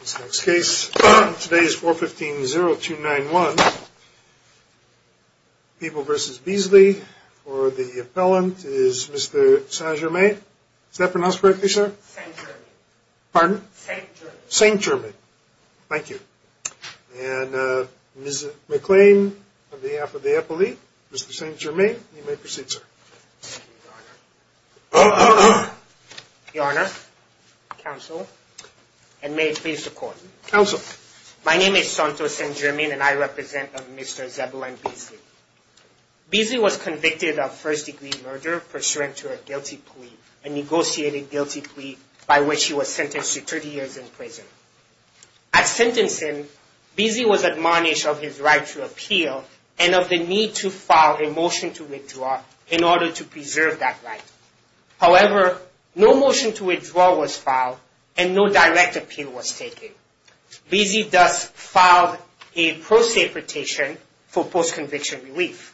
This next case, today is 415-0291. People v. Beasley, for the appellant is Mr. Saint-Germain. Is that pronounced correctly, sir? Saint-Germain. Pardon? Saint-Germain. Saint-Germain. Thank you. And Ms. McLean, on behalf of the appellee, Mr. Saint-Germain, you may proceed, sir. Thank you, Your Honor. Your Honor, Counsel, and may it please the Court. Counsel. My name is Santos Saint-Germain and I represent Mr. Zebulon Beasley. Beasley was convicted of first-degree murder pursuant to a guilty plea, a negotiated guilty plea by which he was sentenced to 30 years in prison. At sentencing, Beasley was admonished of his right to appeal and of the need to file a motion to withdraw in order to preserve that right. However, no motion to withdraw was filed and no direct appeal was taken. Beasley thus filed a pro se petition for post-conviction relief.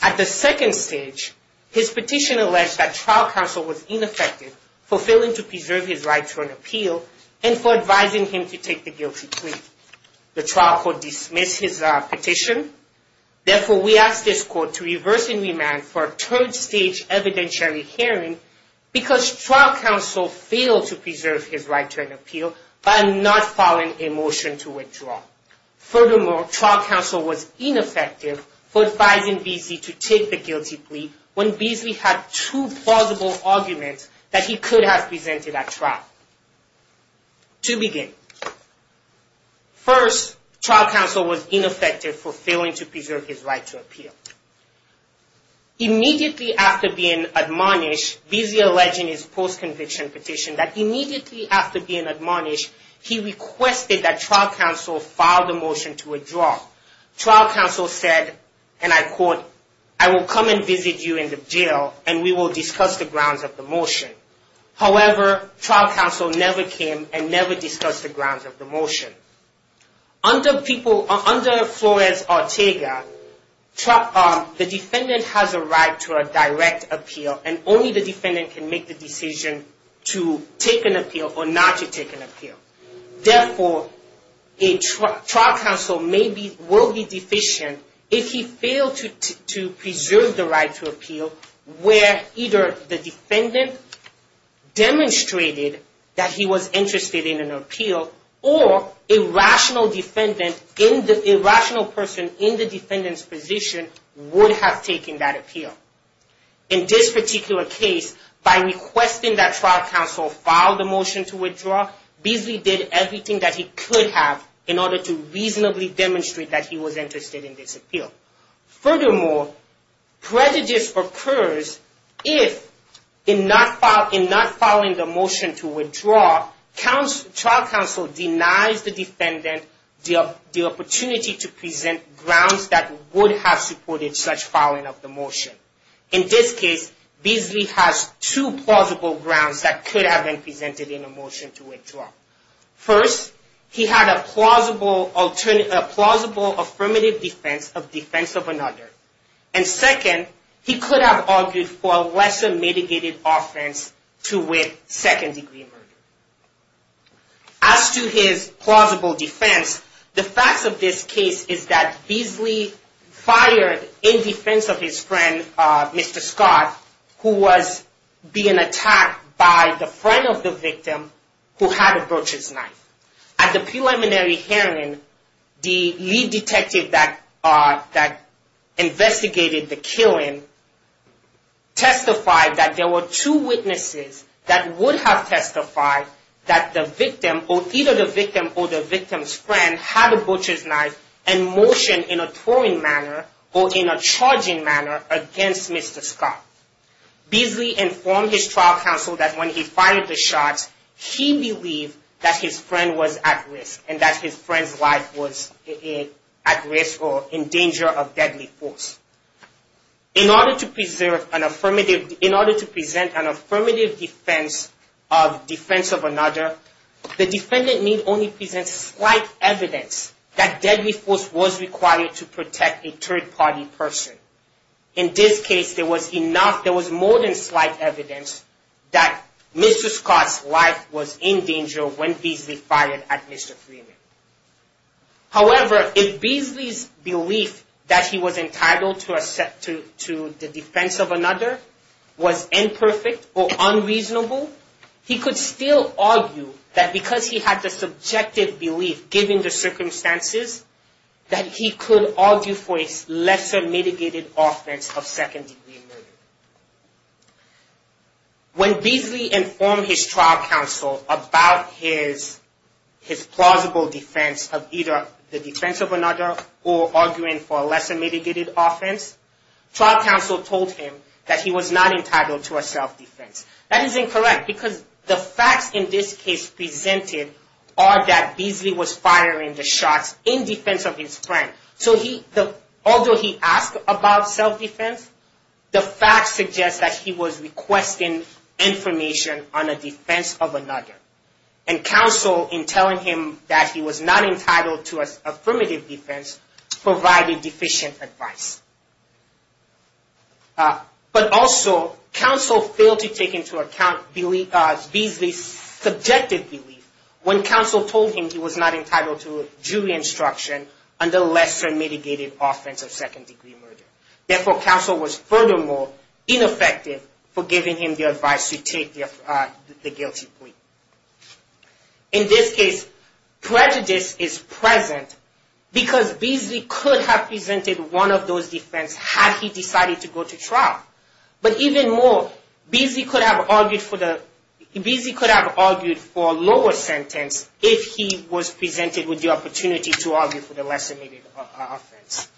At the second stage, his petition alleged that trial counsel was ineffective for failing to preserve his right to an appeal and for advising him to take the guilty plea. The trial court dismissed his petition. Therefore, we ask this Court to reverse and remand for a third stage evidentiary hearing because trial counsel failed to preserve his right to an appeal by not filing a motion to withdraw. Furthermore, trial counsel was ineffective for advising Beasley to take the guilty plea when Beasley had two plausible arguments that he could have presented at trial. To begin, first, trial counsel was ineffective for failing to preserve his right to appeal. Immediately after being admonished, Beasley alleging his post-conviction petition, that immediately after being admonished, he requested that trial counsel file the motion to withdraw. Trial counsel said, and I quote, I will come and visit you in the jail and we will discuss the grounds of the motion. However, trial counsel never came and never discussed the grounds of the motion. Under Flores-Ortega, the defendant has a right to a direct appeal and only the defendant can make the decision to take an appeal or not to take an appeal. Therefore, trial counsel will be deficient if he failed to preserve the right to appeal where either the defendant demonstrated that he was interested in an appeal, or a rational person in the defendant's position would have taken that appeal. In this particular case, by requesting that trial counsel file the motion to withdraw, Beasley did everything that he could have in order to reasonably demonstrate that he was interested in this appeal. Furthermore, prejudice occurs if, in not filing the motion to withdraw, trial counsel denies the defendant the opportunity to present grounds that would have supported such filing of the motion. In this case, Beasley has two plausible grounds that could have been presented in the motion to withdraw. First, he had a plausible affirmative defense of defense of another. And second, he could have argued for a lesser mitigated offense to with second degree murder. As to his plausible defense, the facts of this case is that Beasley fired in defense of his friend, Mr. Scott, who was being attacked by the friend of the victim who had a broach's knife. At the preliminary hearing, the lead detective that investigated the killing testified that there were two witnesses that would have testified that either the victim or the victim's friend had a broach's knife and motioned in a throwing manner or in a charging manner against Mr. Scott. Beasley informed his trial counsel that when he fired the shot, he believed that his friend was at risk and that his friend's life was at risk or in danger of deadly force. In order to present an affirmative defense of defense of another, the defendant may only present slight evidence that deadly force was required to protect a third party person. In this case, there was more than slight evidence that Mr. Scott's life was in danger when Beasley fired at Mr. Freeman. However, if Beasley's belief that he was entitled to the defense of another was imperfect or unreasonable, he could still argue that because he had the subjective belief, given the circumstances, that he could argue for a lesser mitigated offense of second degree murder. When Beasley informed his trial counsel about his plausible defense of either the defense of another or arguing for a lesser mitigated offense, trial counsel told him that he was not entitled to a self-defense. That is incorrect because the facts in this case presented are that Beasley was firing the shots in defense of his friend. So although he asked about self-defense, the facts suggest that he was requesting information on a defense of another. And counsel, in telling him that he was not entitled to an affirmative defense, provided deficient advice. But also, counsel failed to take into account Beasley's subjective belief when counsel told him he was not entitled to jury instruction under lesser mitigated offense of second degree murder. Therefore, counsel was furthermore ineffective for giving him the advice to take the guilty plea. In this case, prejudice is present because Beasley could have presented one of those defense had he decided to go to trial. But even more, Beasley could have argued for a lower sentence if he was presented with the opportunity to argue for the lesser mitigated offense.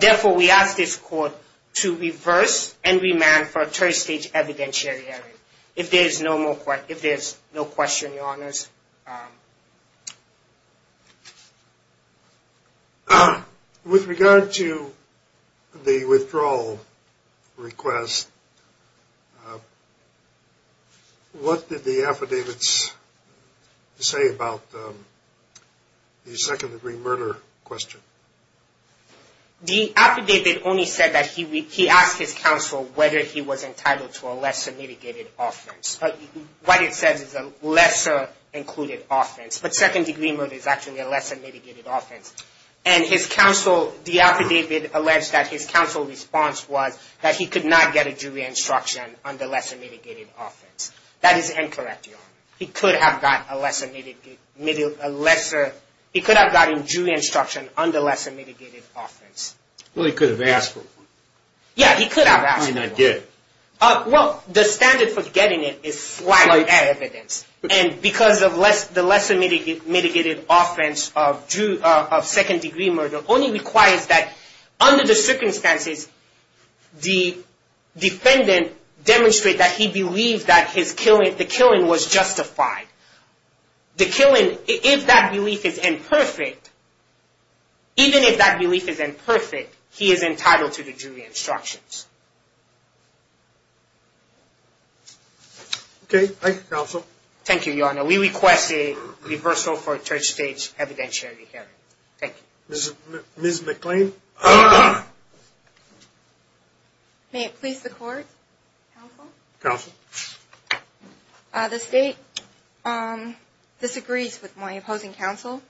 Therefore, we ask this court to reverse and remand for a third stage evidentiary hearing. If there is no question, your honors. With regard to the withdrawal request, what did the affidavits say about the second degree murder question? The affidavit only said that he asked his counsel whether he was entitled to a lesser mitigated offense. What it says is a lesser included offense. But second degree murder is actually a lesser mitigated offense. And his counsel, the affidavit alleged that his counsel's response was that he could not get a jury instruction under lesser mitigated offense. That is incorrect, your honor. He could have gotten a jury instruction under lesser mitigated offense. Well, he could have asked for one. Yeah, he could have asked for one. Why not get? Well, the standard for getting it is slight evidence. And because of the lesser mitigated offense of second degree murder only requires that under the circumstances, the defendant demonstrate that he believes that the killing was justified. The killing, if that belief is imperfect, even if that belief is imperfect, he is entitled to the jury instructions. Okay, thank you, counsel. Thank you, your honor. We request a reversal for a third stage evidentiary hearing. Thank you. Ms. McClain? May it please the court, counsel? Counsel. The state disagrees with my opposing counsel.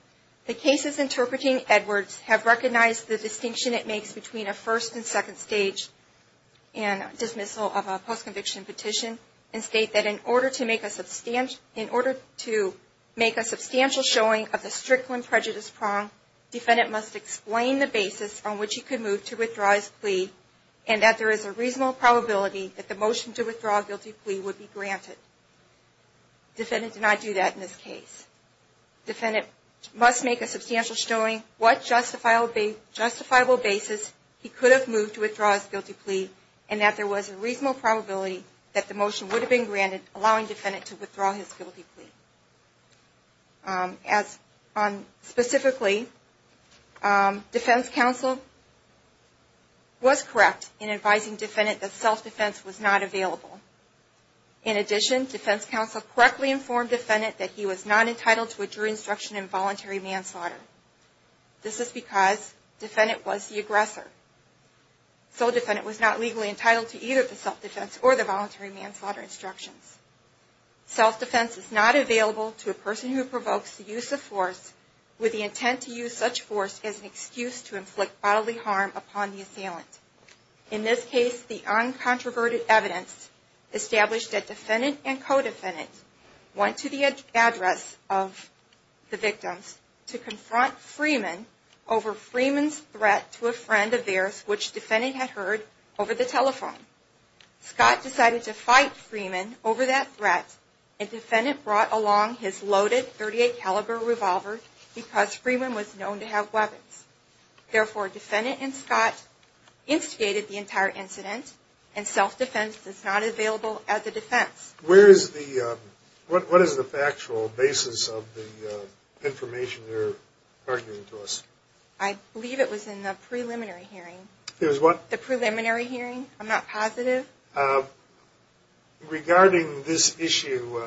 The cases interpreting Edwards have recognized the distinction it makes between a first and second stage dismissal of a post-conviction petition. And state that in order to make a substantial showing of the strict limb prejudice prong, defendant must explain the basis on which he could move to withdraw his plea and that there is a reasonable probability that the motion to withdraw a guilty plea would be granted. Defendant did not do that in this case. Defendant must make a substantial showing what justifiable basis he could have moved to withdraw his guilty plea and that there was a reasonable probability that the motion would have been granted, allowing defendant to withdraw his guilty plea. Specifically, defense counsel was correct in advising defendant that self-defense was not available. In addition, defense counsel correctly informed defendant that he was not entitled to a jury instruction in voluntary manslaughter. This is because defendant was the aggressor. So defendant was not legally entitled to either the self-defense or the voluntary manslaughter instructions. Self-defense is not available to a person who provokes the use of force with the intent to use such force as an excuse to inflict bodily harm upon the assailant. In this case, the uncontroverted evidence established that defendant and co-defendant went to the address of the victims to confront Freeman over Freeman's threat to a friend of theirs, which defendant had heard over the telephone. Scott decided to fight Freeman over that threat, and defendant brought along his loaded .38 caliber revolver because Freeman was known to have weapons. Therefore, defendant and Scott instigated the entire incident, and self-defense is not available as a defense. Where is the, what is the factual basis of the information you're arguing to us? I believe it was in the preliminary hearing. It was what? The preliminary hearing. I'm not positive. Regarding this issue,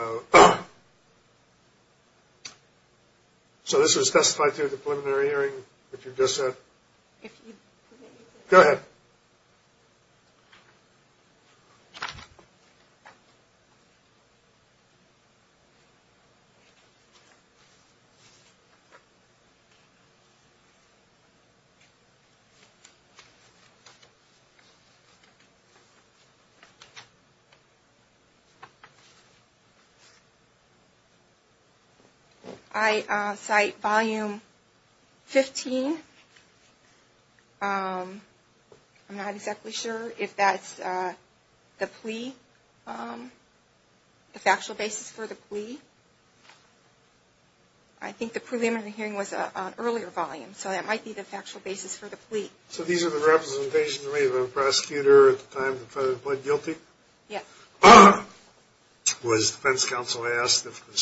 so this was specified through the preliminary hearing that you just said? Go ahead. I cite volume 15. I'm not exactly sure if that's the plea, the factual basis for the plea. I think the preliminary hearing was an earlier volume, so that might be the factual basis for the plea. So these are the representations made by the prosecutor at the time the defendant pled guilty? Yes. Was defense counsel asked if the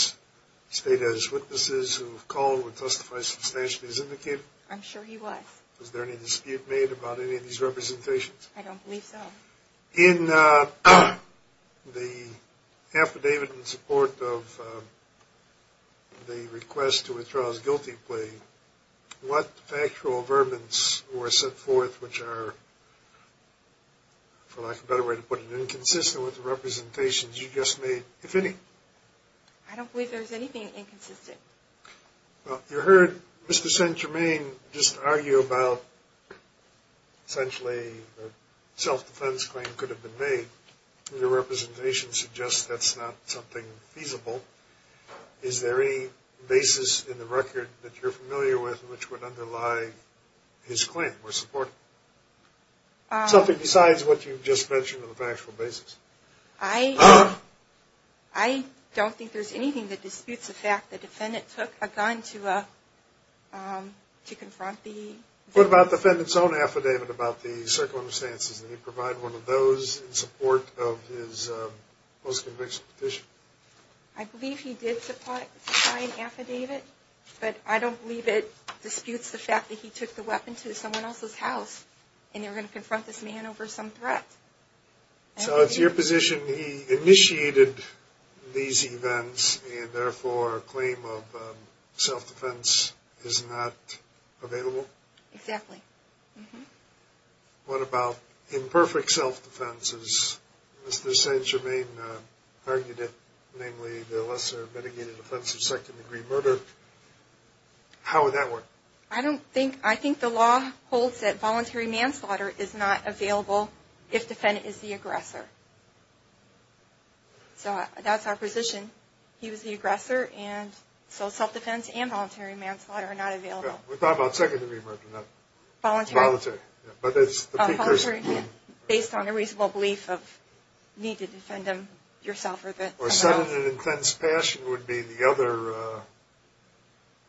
state has witnesses who called would testify substantially as indicated? I'm sure he was. Was there any dispute made about any of these representations? I don't believe so. In the affidavit in support of the request to withdraw his guilty plea, what factual averments were set forth which are, for lack of a better way to put it, inconsistent with the representations you just made, if any? I don't believe there's anything inconsistent. Well, you heard Mr. Saint-Germain just argue about essentially a self-defense claim could have been made. Your representation suggests that's not something feasible. Is there any basis in the record that you're familiar with which would underlie his claim or support it? Something besides what you just mentioned on the factual basis. I don't think there's anything that disputes the fact the defendant took a gun to confront the defendant. What about the defendant's own affidavit about the circumstances? Did he provide one of those in support of his post-conviction petition? I believe he did supply an affidavit, but I don't believe it disputes the fact that he took the weapon to someone else's house and they were going to confront this man over some threat. So it's your position he initiated these events and therefore a claim of self-defense is not available? Exactly. What about imperfect self-defense as Mr. Saint-Germain argued it, namely the lesser mitigated offense of second-degree murder? How would that work? I think the law holds that voluntary manslaughter is not available if the defendant is the aggressor. So that's our position. He was the aggressor and so self-defense and voluntary manslaughter are not available. We're talking about second-degree murder, not voluntary. Voluntary based on a reasonable belief of need to defend yourself. Or sudden and intense passion would be the other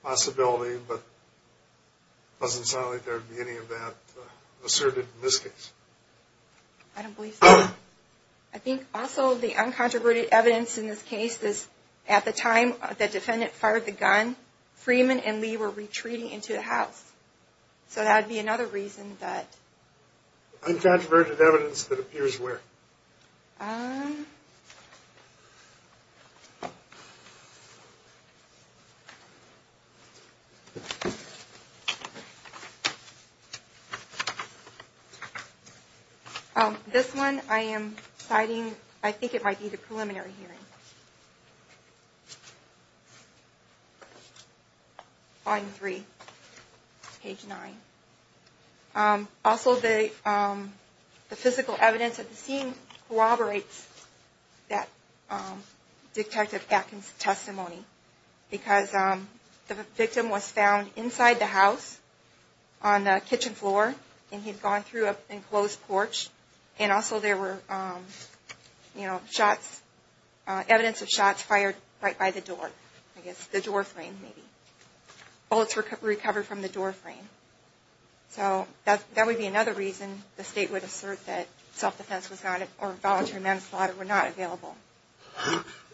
possibility, but it doesn't sound like there would be any of that asserted in this case. I don't believe so. I think also the uncontroverted evidence in this case is at the time the defendant fired the gun, Freeman and Lee were retreating into the house. So that would be another reason that... Uncontroverted evidence that appears where? Um... This one I am citing, I think it might be the preliminary hearing. Volume 3, page 9. Also the physical evidence at the scene corroborates that Detective Atkins' testimony because the victim was found inside the house on the kitchen floor and he had gone through an enclosed porch. And also there were shots, evidence of shots fired right by the door. I guess the door frame maybe. Bullets were recovered from the door frame. So that would be another reason the State would assert that self-defense was not, or voluntary manslaughter were not available.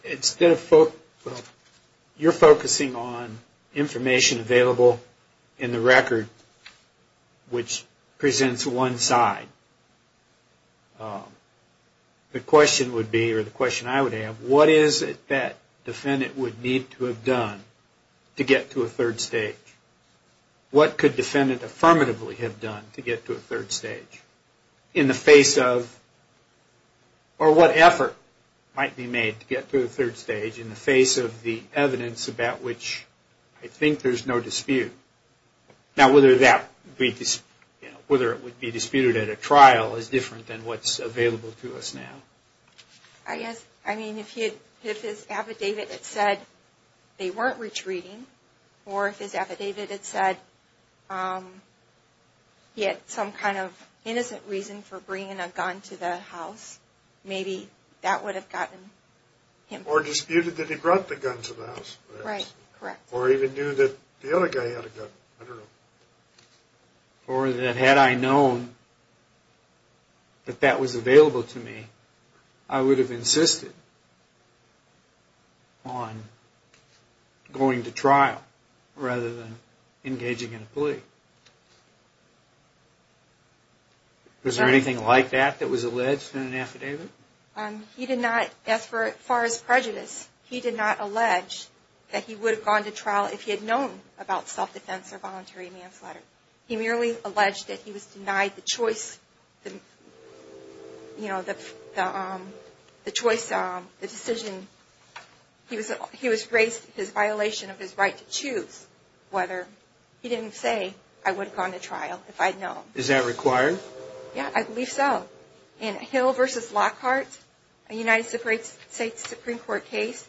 Instead of... You're focusing on information available in the record which presents one side. The question would be, or the question I would have, what is it that defendant would need to have done to get to a third stage? What could defendant affirmatively have done to get to a third stage? In the face of... Or what effort might be made to get to a third stage in the face of the evidence about which I think there's no dispute. Now whether that would be disputed at a trial is different than what's available to us now. I guess, I mean, if his affidavit had said they weren't retreating, or if his affidavit had said he had some kind of innocent reason for bringing a gun to the house, maybe that would have gotten him... Or disputed that he brought the gun to the house. Right, correct. Or even knew that the other guy had a gun. I don't know. Or that had I known that that was available to me, I would have insisted on going to trial rather than engaging in a plea. Was there anything like that that was alleged in an affidavit? He did not, as far as prejudice, he did not allege that he would have gone to trial if he had known about self-defense or voluntary manslaughter. He merely alleged that he was denied the choice, the decision. He was graced his violation of his right to choose whether he didn't say, I would have gone to trial if I'd known. Is that required? Yeah, I believe so. In Hill v. Lockhart, a United States Supreme Court case,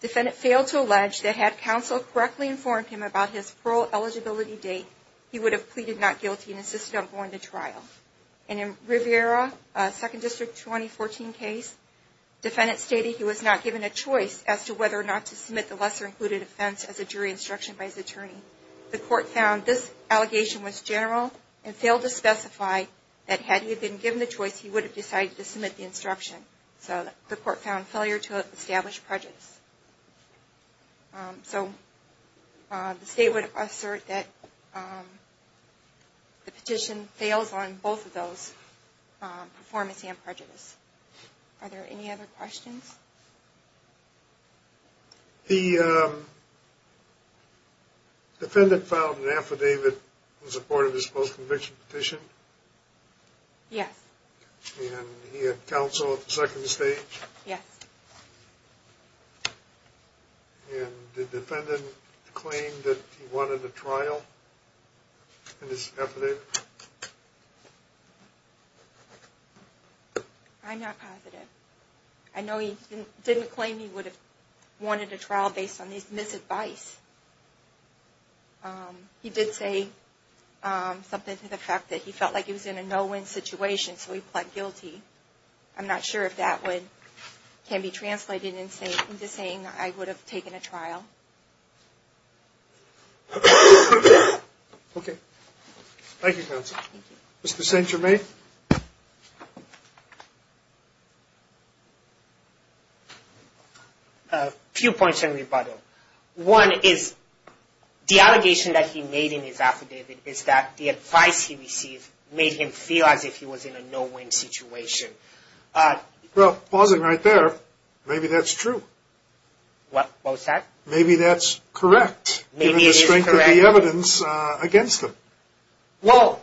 defendant failed to allege that had counsel correctly informed him about his parole eligibility date, he would have pleaded not guilty and insisted on going to trial. And in Rivera, a 2nd District 2014 case, defendant stated he was not given a choice as to whether or not to submit the lesser included offense as a jury instruction by his attorney. The court found this allegation was general and failed to specify that had he been given the choice, he would have decided to submit the instruction. So the court found failure to establish prejudice. So the state would assert that the petition fails on both of those, performance and prejudice. Are there any other questions? The defendant filed an affidavit in support of his post-conviction petition? Yes. And he had counsel at the second stage? Yes. And did the defendant claim that he wanted a trial in his affidavit? I'm not positive. I know he didn't claim he would have wanted a trial based on his misadvice. He did say something to the fact that he felt like he was in a no-win situation, so he pled guilty. I'm not sure if that can be translated into saying that I would have taken a trial. Okay. Thank you, counsel. Mr. St. Germain? A few points in rebuttal. One is the allegation that he made in his affidavit is that the advice he received made him feel as if he was in a no-win situation. Well, pausing right there, maybe that's true. What was that? Maybe that's correct, given the strength of the evidence against him. Well,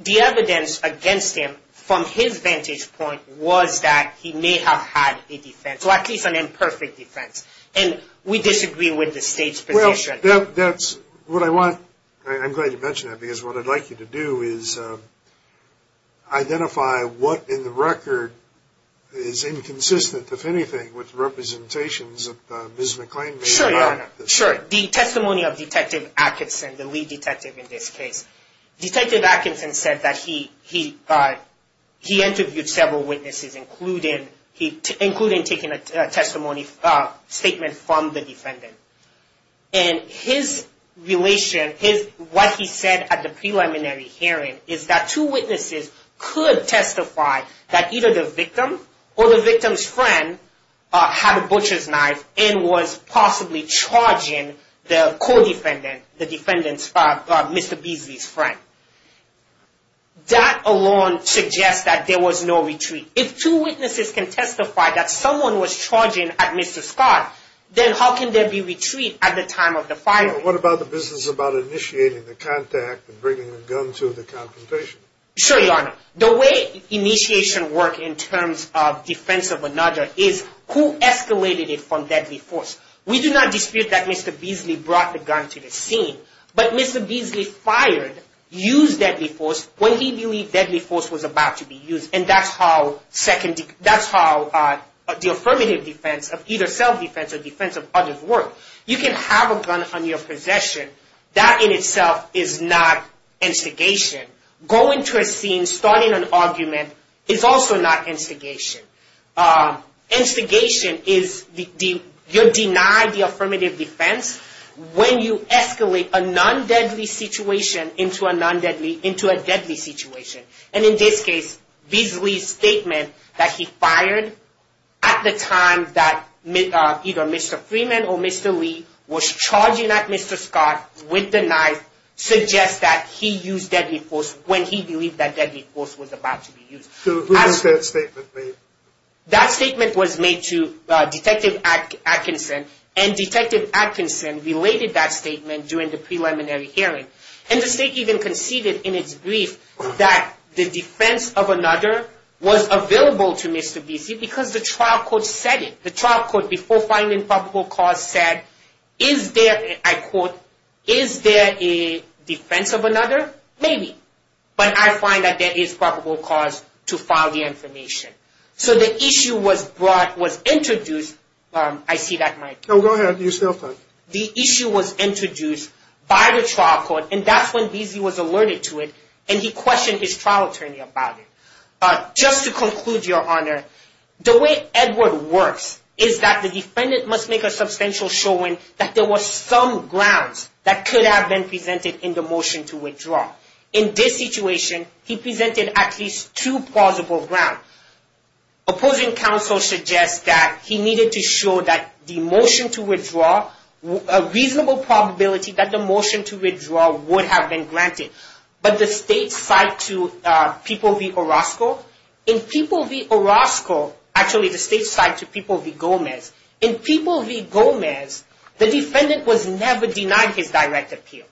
the evidence against him, from his vantage point, was that he may have had a defense, or at least an imperfect defense. And we disagree with the State's position. Well, that's what I want. I'm glad you mentioned that, because what I'd like you to do is identify what in the record is inconsistent, if anything, with representations that Ms. McClain made. Sure, Your Honor. Sure. The testimony of Detective Atkinson, the lead detective in this case. Detective Atkinson said that he interviewed several witnesses, including taking a testimony statement from the defendant. And his relation, what he said at the preliminary hearing, is that two witnesses could testify that either the victim or the victim's friend had a butcher's knife and was possibly charging the co-defendant, the defendant's, Mr. Beasley's friend. That alone suggests that there was no retreat. If two witnesses can testify that someone was charging at Mr. Scott, then how can there be retreat at the time of the firing? Well, what about the business about initiating the contact and bringing the gun to the confrontation? Sure, Your Honor. The way initiation works in terms of defense of another is who escalated it from deadly force. We do not dispute that Mr. Beasley brought the gun to the scene, but Mr. Beasley fired, used deadly force when he believed deadly force was about to be used. And that's how the affirmative defense of either self-defense or defense of others work. You can have a gun on your possession. That in itself is not instigation. Going to a scene, starting an argument is also not instigation. Instigation is you deny the affirmative defense when you escalate a non-deadly situation into a deadly situation. And in this case, Beasley's statement that he fired at the time that either Mr. Freeman or Mr. Lee was charging at Mr. Scott with the knife suggests that he used deadly force when he believed that deadly force was about to be used. Who has that statement made? That statement was made to Detective Atkinson, and Detective Atkinson related that statement during the preliminary hearing. And the State even conceded in its brief that the defense of another was available to Mr. Beasley because the trial court said it. The trial court, before finding probable cause, said, is there, I quote, is there a defense of another? Maybe. But I find that there is probable cause to file the information. So the issue was introduced. I see that, Mike. No, go ahead. You still have time. The issue was introduced by the trial court, and that's when Beasley was alerted to it, and he questioned his trial attorney about it. Just to conclude, Your Honor, the way Edward works is that the defendant must make a substantial showing that there was some grounds that could have been presented in the motion to withdraw. In this situation, he presented at least two plausible grounds. Opposing counsel suggests that he needed to show that the motion to withdraw, a reasonable probability that the motion to withdraw would have been granted. But the state's side to People v. Orozco, in People v. Orozco, actually the state's side to People v. Gomez, in People v. Gomez, the defendant was never denied his direct appeal.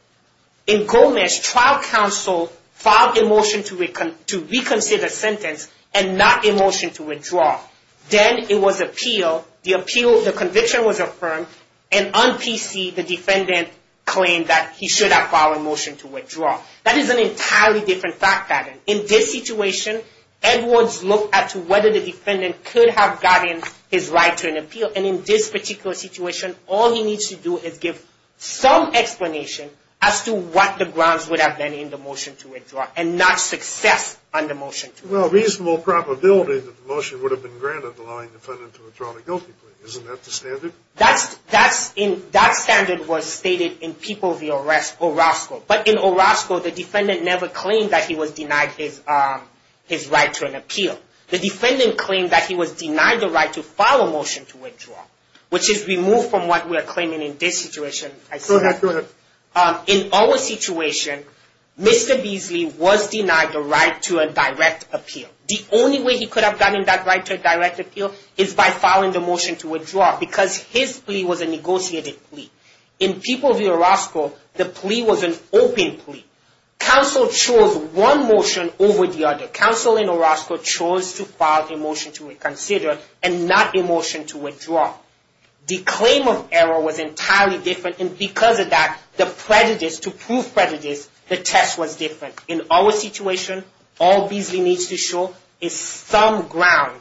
In Gomez, trial counsel filed a motion to reconsider the sentence and not a motion to withdraw. Then it was appealed, the appeal, the conviction was affirmed, and on P.C., the defendant claimed that he should have filed a motion to withdraw. That is an entirely different fact pattern. In this situation, Edwards looked at whether the defendant could have gotten his right to an appeal, and in this particular situation, all he needs to do is give some explanation as to what the grounds would have been in the motion to withdraw and not success on the motion to withdraw. Well, a reasonable probability that the motion would have been granted allowing the defendant to withdraw the guilty plea. Isn't that the standard? That standard was stated in People v. Orozco. But in Orozco, the defendant never claimed that he was denied his right to an appeal. The defendant claimed that he was denied the right to file a motion to withdraw, which is removed from what we are claiming in this situation. Go ahead. In our situation, Mr. Beasley was denied the right to a direct appeal. The only way he could have gotten that right to a direct appeal is by filing the motion to withdraw because his plea was a negotiated plea. In People v. Orozco, the plea was an open plea. Counsel chose one motion over the other. Counsel in Orozco chose to file a motion to reconsider and not a motion to withdraw. The claim of error was entirely different, and because of that, the prejudice, to prove prejudice, the test was different. In our situation, all Beasley needs to show is some ground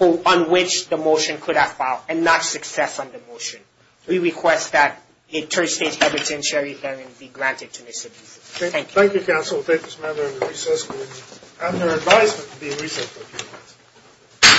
on which the motion could have filed and not success on the motion. We request that a third-stage evidentiary hearing be granted to Mr. Beasley. Thank you. Thank you, Counsel. Thank this man and the recess group. And your advisement to the recess group.